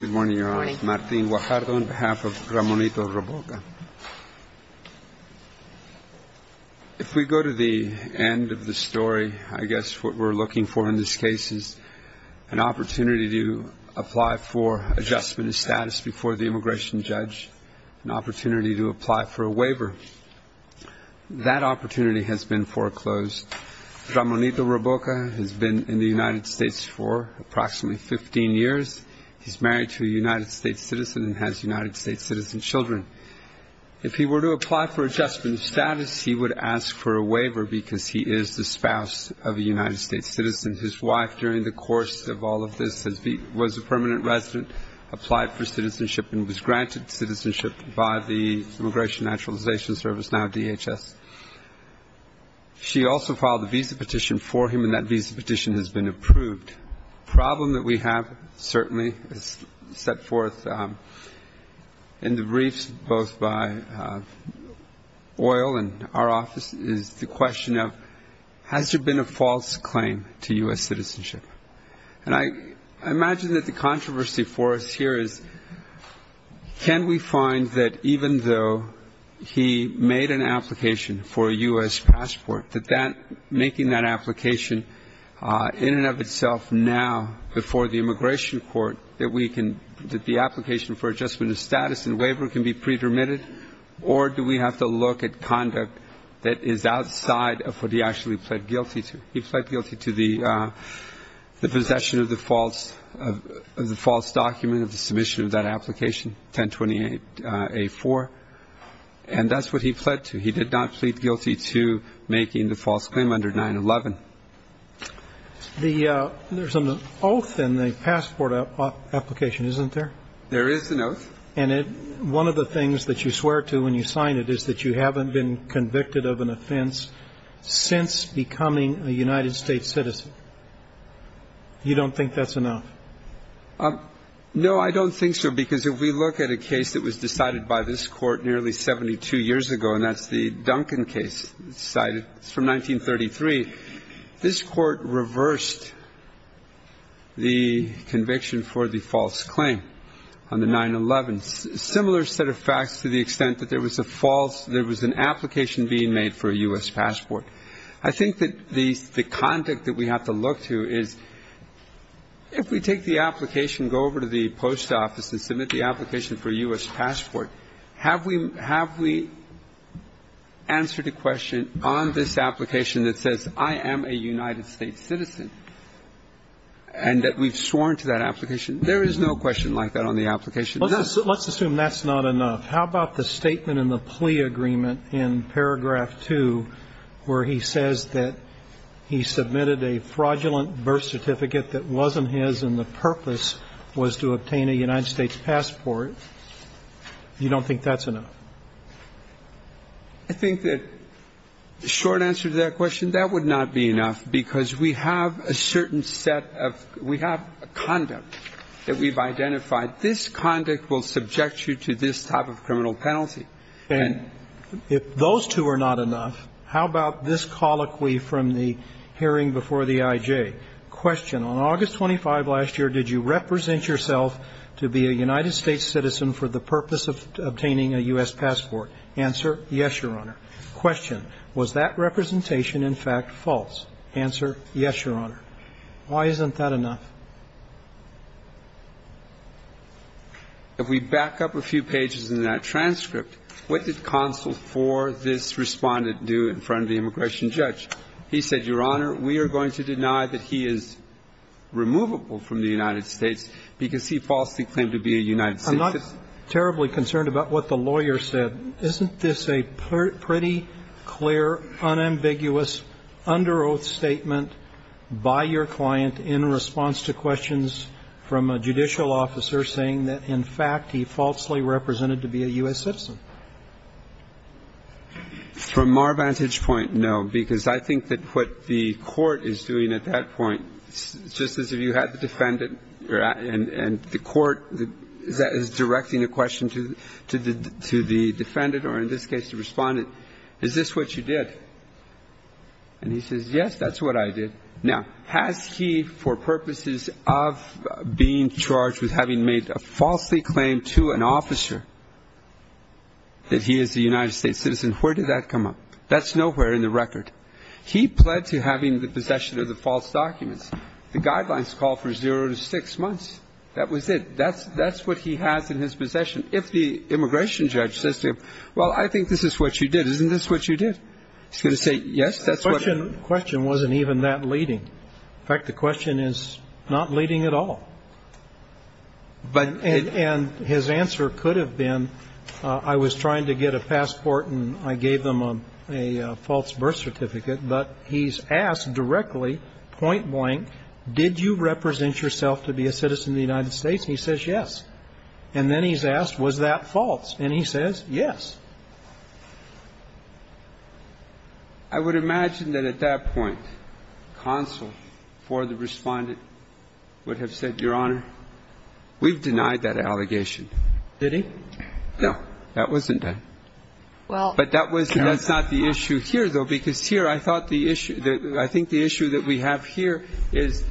Good morning, Your Honor. Martin Guajardo on behalf of Ramonito Roboca. If we go to the end of the story, I guess what we're looking for in this case is an opportunity to apply for adjustment of status before the immigration judge, an opportunity to apply for a waiver. That opportunity has been foreclosed. Ramonito Roboca has been in the United States for approximately 15 years. He's married to a United States citizen and has United States citizen children. If he were to apply for adjustment of status, he would ask for a waiver because he is the spouse of a United States citizen. His wife, during the course of all of this, was a permanent resident, applied for citizenship, and was granted citizenship by the Immigration Naturalization Service, now DHS. She also filed a visa petition for him, and that visa petition has been approved. The problem that we have, certainly, is set forth in the briefs both by oil and our office, is the question of, has there been a false claim to U.S. citizenship? And I imagine that the controversy for us here is, can we find that even though he made an application for a U.S. passport, that making that application in and of itself now before the immigration court, that the application for adjustment of status and waiver can be pre-permitted, or do we have to look at conduct that is outside of what he actually pled guilty to? The possession of the false document of the submission of that application, 1028A4, and that's what he pled to. He did not plead guilty to making the false claim under 9-11. There's an oath in the passport application, isn't there? There is an oath. And one of the things that you swear to when you sign it is that you haven't been convicted of an offense since becoming a United States citizen. You don't think that's enough? No, I don't think so, because if we look at a case that was decided by this Court nearly 72 years ago, and that's the Duncan case, decided from 1933, this Court reversed the conviction for the false claim on the 9-11. Similar set of facts to the extent that there was a false, there was an application being made for a U.S. passport. I think that the conduct that we have to look to is if we take the application, go over to the post office and submit the application for a U.S. passport, have we answered a question on this application that says I am a United States citizen and that we've sworn to that application? There is no question like that on the application. Let's assume that's not enough. How about the statement in the plea agreement in paragraph 2 where he says that he submitted a fraudulent birth certificate that wasn't his and the purpose was to obtain a United States passport? You don't think that's enough? I think that the short answer to that question, that would not be enough, because we have a certain set of we have conduct that we've identified. This conduct will subject you to this type of criminal penalty. And if those two are not enough, how about this colloquy from the hearing before the I.J.? Question, on August 25 last year, did you represent yourself to be a United States citizen for the purpose of obtaining a U.S. passport? Answer, yes, Your Honor. Question, was that representation in fact false? Answer, yes, Your Honor. Why isn't that enough? If we back up a few pages in that transcript, what did counsel for this respondent do in front of the immigration judge? He said, Your Honor, we are going to deny that he is removable from the United States because he falsely claimed to be a United States citizen. I'm not terribly concerned about what the lawyer said. Isn't this a pretty clear, unambiguous, under oath statement by your client in response to questions from a judicial officer saying that, in fact, he falsely represented to be a U.S. citizen? From our vantage point, no, because I think that what the court is doing at that point, just as if you had the defendant and the court is directing a question to the defendant or, in this case, the respondent, is this what you did? And he says, yes, that's what I did. Now, has he, for purposes of being charged with having made a falsely claimed to an United States citizen, where did that come up? That's nowhere in the record. He pled to having the possession of the false documents. The guidelines call for zero to six months. That was it. That's what he has in his possession. If the immigration judge says to him, well, I think this is what you did, isn't this what you did? He's going to say, yes, that's what I did. The question wasn't even that leading. In fact, the question is not leading at all. And his answer could have been, I was trying to get a passport and I gave them a false birth certificate, but he's asked directly, point blank, did you represent yourself to be a citizen of the United States? And he says, yes. And then he's asked, was that false? And he says, yes. I would imagine that at that point, counsel for the respondent would have said, Your Honor, we've denied that allegation. Did he? No. That wasn't done. But that's not the issue here, though, because here I thought the issue, I think the issue that we have here is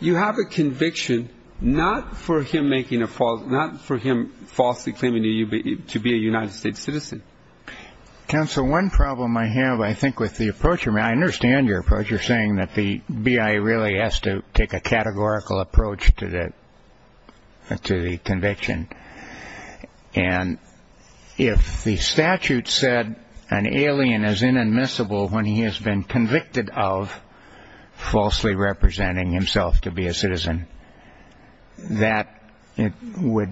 you have a conviction not for him making a false, not for him falsely claiming to be a United States citizen. Counsel, one problem I have, I think with the approach, I understand your approach, you're saying that the BIA really has to take a categorical approach to the conviction. And if the statute said an alien is inadmissible when he has been convicted of falsely representing himself to be a citizen, that would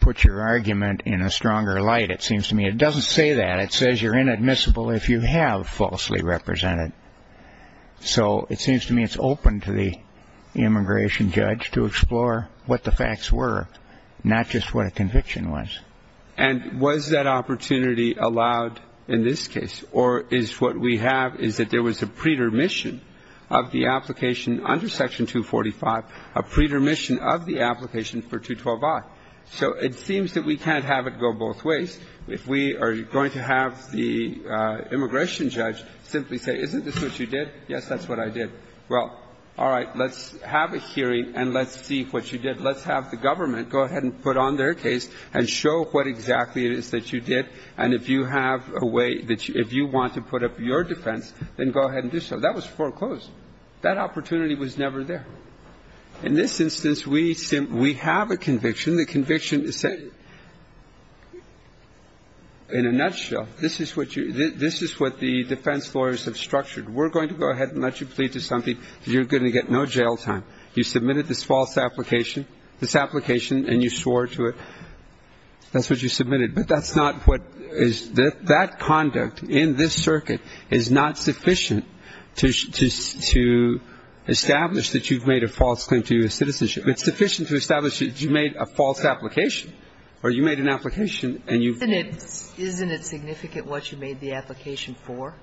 put your argument in a stronger light, it seems to me. It doesn't say that. It says you're inadmissible if you have falsely represented. So it seems to me it's open to the immigration judge to explore what the facts were, not just what a conviction was. And was that opportunity allowed in this case? Or is what we have is that there was a pretermission of the application under Section 245, a pretermission of the application for 212i. So it seems that we can't have it go both ways. If we are going to have the immigration judge simply say, isn't this what you did? Yes, that's what I did. Well, all right, let's have a hearing and let's see what you did. Let's have the government go ahead and put on their case and show what exactly it is that you did. And if you have a way that you – if you want to put up your defense, then go ahead and do so. That was foreclosed. That opportunity was never there. In this instance, we have a conviction. The conviction is – in a nutshell, this is what you – this is what the defense lawyers have structured. We're going to go ahead and let you plead to something. You're going to get no jail time. You submitted this false application – this application and you swore to it. That's what you submitted. But that's not what – that conduct in this circuit is not sufficient to establish that you've made a false claim to your citizenship. It's sufficient to establish that you made a false application or you made an application and you've made it. Isn't it significant what you made the application for?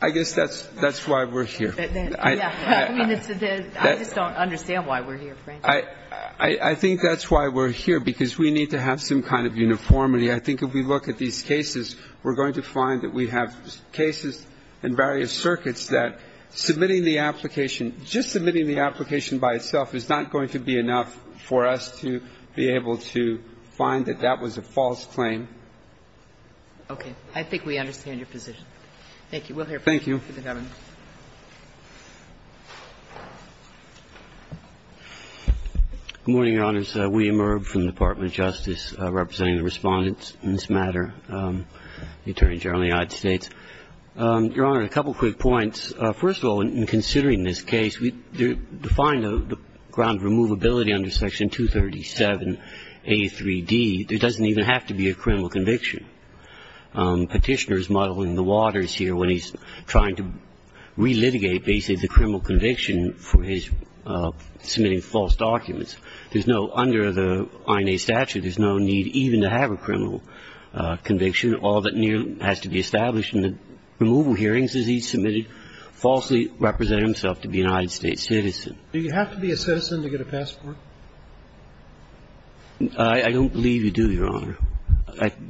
I guess that's why we're here. I just don't understand why we're here, Frank. I think that's why we're here, because we need to have some kind of uniformity. I think if we look at these cases, we're going to find that we have cases in various circuits that submitting the application, just submitting the application by itself is not going to be enough for us to be able to find that that was a false claim. Okay. I think we understand your position. Thank you. We'll hear from you. Thank you. Good morning, Your Honors. William Irb from the Department of Justice representing the Respondents in this matter, the Attorney General of the United States. Your Honor, a couple quick points. First of all, in considering this case, we define the ground of removability under Section 237a3d. There doesn't even have to be a criminal conviction. Petitioner is muddling the waters here when he's trying to relitigate basically the criminal conviction for his submitting false documents. There's no under the INA statute, there's no need even to have a criminal conviction. All that has to be established in the removal hearings is he submitted falsely representing himself to be a United States citizen. Do you have to be a citizen to get a passport? I don't believe you do, Your Honor.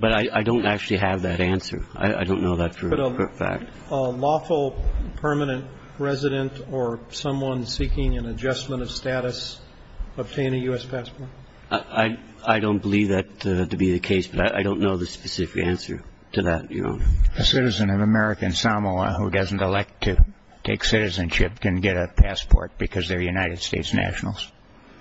But I don't actually have that answer. I don't know that for a fact. But a lawful permanent resident or someone seeking an adjustment of status obtain a U.S. passport? I don't believe that to be the case, but I don't know the specific answer to that, Your Honor. A citizen of American Samoa who doesn't elect to take citizenship can get a passport because they're United States nationals.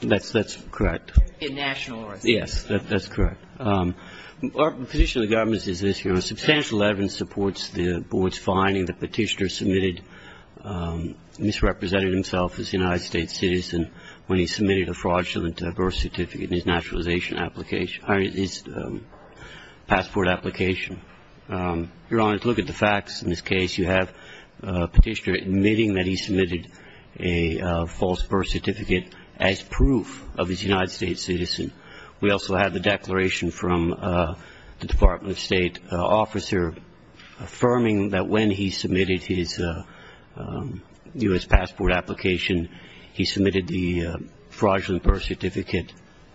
That's correct. A national resident. Yes, that's correct. The position of the government is this, Your Honor. Substantial evidence supports the board's finding the petitioner submitted misrepresented himself as a United States citizen when he submitted a fraudulent birth certificate in his passport application. Your Honor, to look at the facts in this case, you have a petitioner admitting that he submitted a false birth certificate as proof of his United States citizen. We also have the declaration from the Department of State officer affirming that when he submitted his U.S. passport application, he submitted the fraudulent birth certificate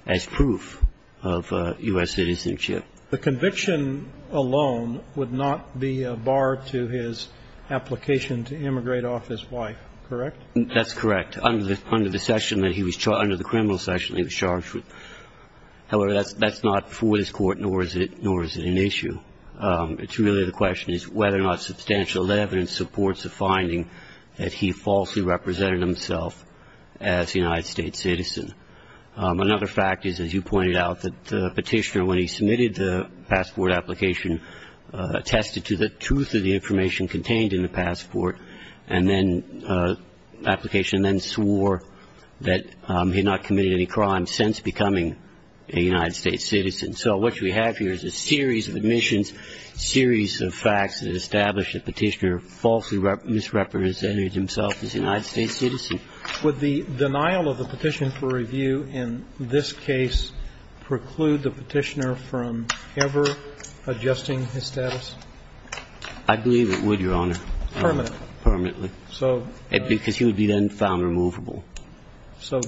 as proof of U.S. citizenship. The conviction alone would not be a bar to his application to immigrate off his wife, correct? That's correct. Under the session that he was charged under, the criminal session he was charged with. However, that's not before this Court, nor is it an issue. It's really the question is whether or not substantial evidence supports the finding that he falsely represented himself as a United States citizen. Another fact is, as you pointed out, that the petitioner, when he submitted the passport application, attested to the truth of the information contained in the passport, and then the application then swore that he had not committed any crimes since becoming a United States citizen. So what you have here is a series of admissions, a series of facts that establish that the petitioner falsely misrepresented himself as a United States citizen. Would the denial of the petition for review in this case preclude the petitioner from ever adjusting his status? I believe it would, Your Honor. Permanently? Permanently. Because he would be then found removable. So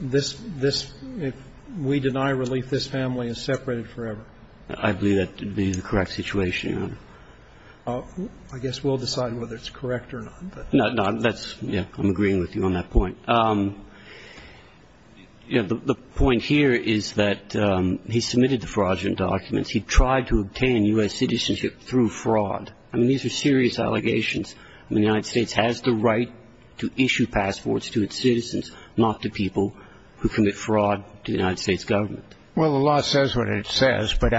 this, this, if we deny relief, this family is separated forever? I believe that would be the correct situation, Your Honor. I guess we'll decide whether it's correct or not. No, no. That's, yeah, I'm agreeing with you on that point. You know, the point here is that he submitted the fraudulent documents. He tried to obtain U.S. citizenship through fraud. I mean, these are serious allegations. I mean, the United States has the right to issue passports to its citizens, not to people who commit fraud to the United States government. Well, the law says what it says. But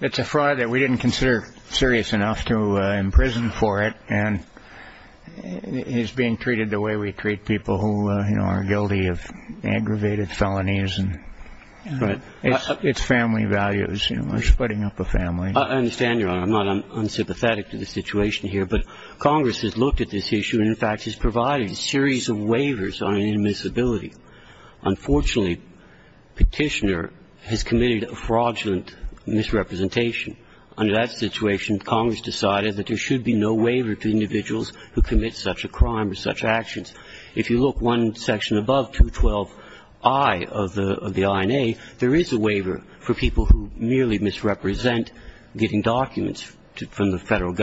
it's a fraud that we didn't consider serious enough to imprison for it, and it's being treated the way we treat people who, you know, are guilty of aggravated felonies. But it's family values. We're splitting up a family. I understand, Your Honor. I'm sympathetic to the situation here. But Congress has looked at this issue and, in fact, has provided a series of waivers on inadmissibility. Unfortunately, Petitioner has committed a fraudulent misrepresentation. Under that situation, Congress decided that there should be no waiver to individuals who commit such a crime or such actions. If you look one section above 212i of the INA, there is a waiver for people who merely misrepresent getting documents from the Federal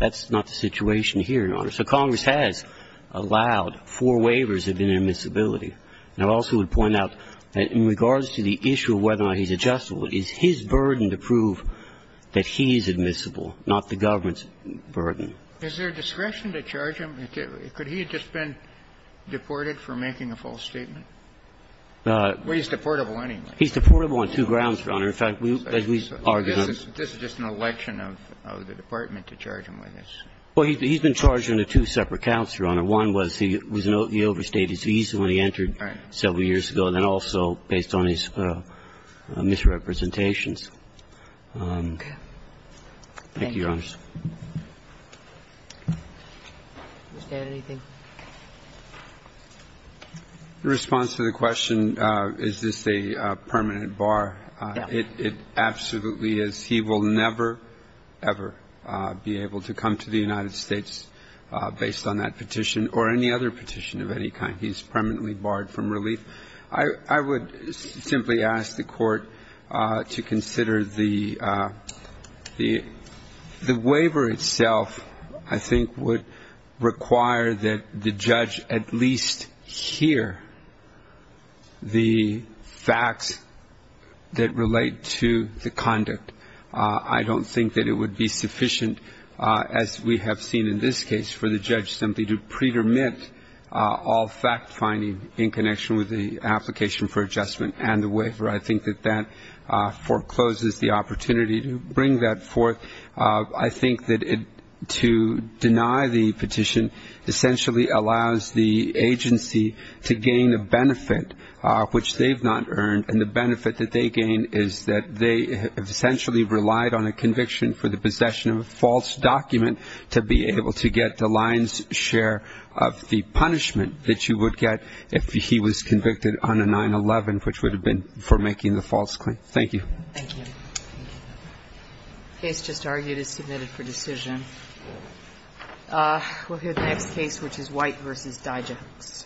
That's not the situation here, Your Honor. So Congress has allowed four waivers of inadmissibility. And I also would point out that in regards to the issue of whether or not he's adjustable, it is his burden to prove that he's admissible, not the government's burden. Is there discretion to charge him? Could he have just been deported for making a false statement? Well, he's deportable anyway. He's deportable on two grounds, Your Honor. In fact, as we've argued on this. This is just an election of the Department to charge him with this. Well, he's been charged under two separate counts, Your Honor. One was he overstayed his visa when he entered several years ago. Right. And then also based on his misrepresentations. Okay. Thank you, Your Honors. Thank you. Mr. Kennedy? In response to the question, is this a permanent bar, it absolutely is. He will never, ever be able to come to the United States based on that petition or any other petition of any kind. He's permanently barred from relief. I would simply ask the Court to consider the waiver itself, I think, would require that the judge at least hear the facts that relate to the conduct. I don't think that it would be sufficient, as we have seen in this case, for the judge simply to pre-dermit all fact-finding in connection with the application for adjustment and the waiver. I think that that forecloses the opportunity to bring that forth. I think that to deny the petition essentially allows the agency to gain a benefit, which they've not earned, and the benefit that they gain is that they have essentially relied on a conviction for the possession of a false document to be able to get the lion's share of the punishment that you would get if he was convicted on a 9-11, which would have been for making the false claim. Thank you. Thank you. The case just argued is submitted for decision. We'll hear the next case, which is White v. Dijaks.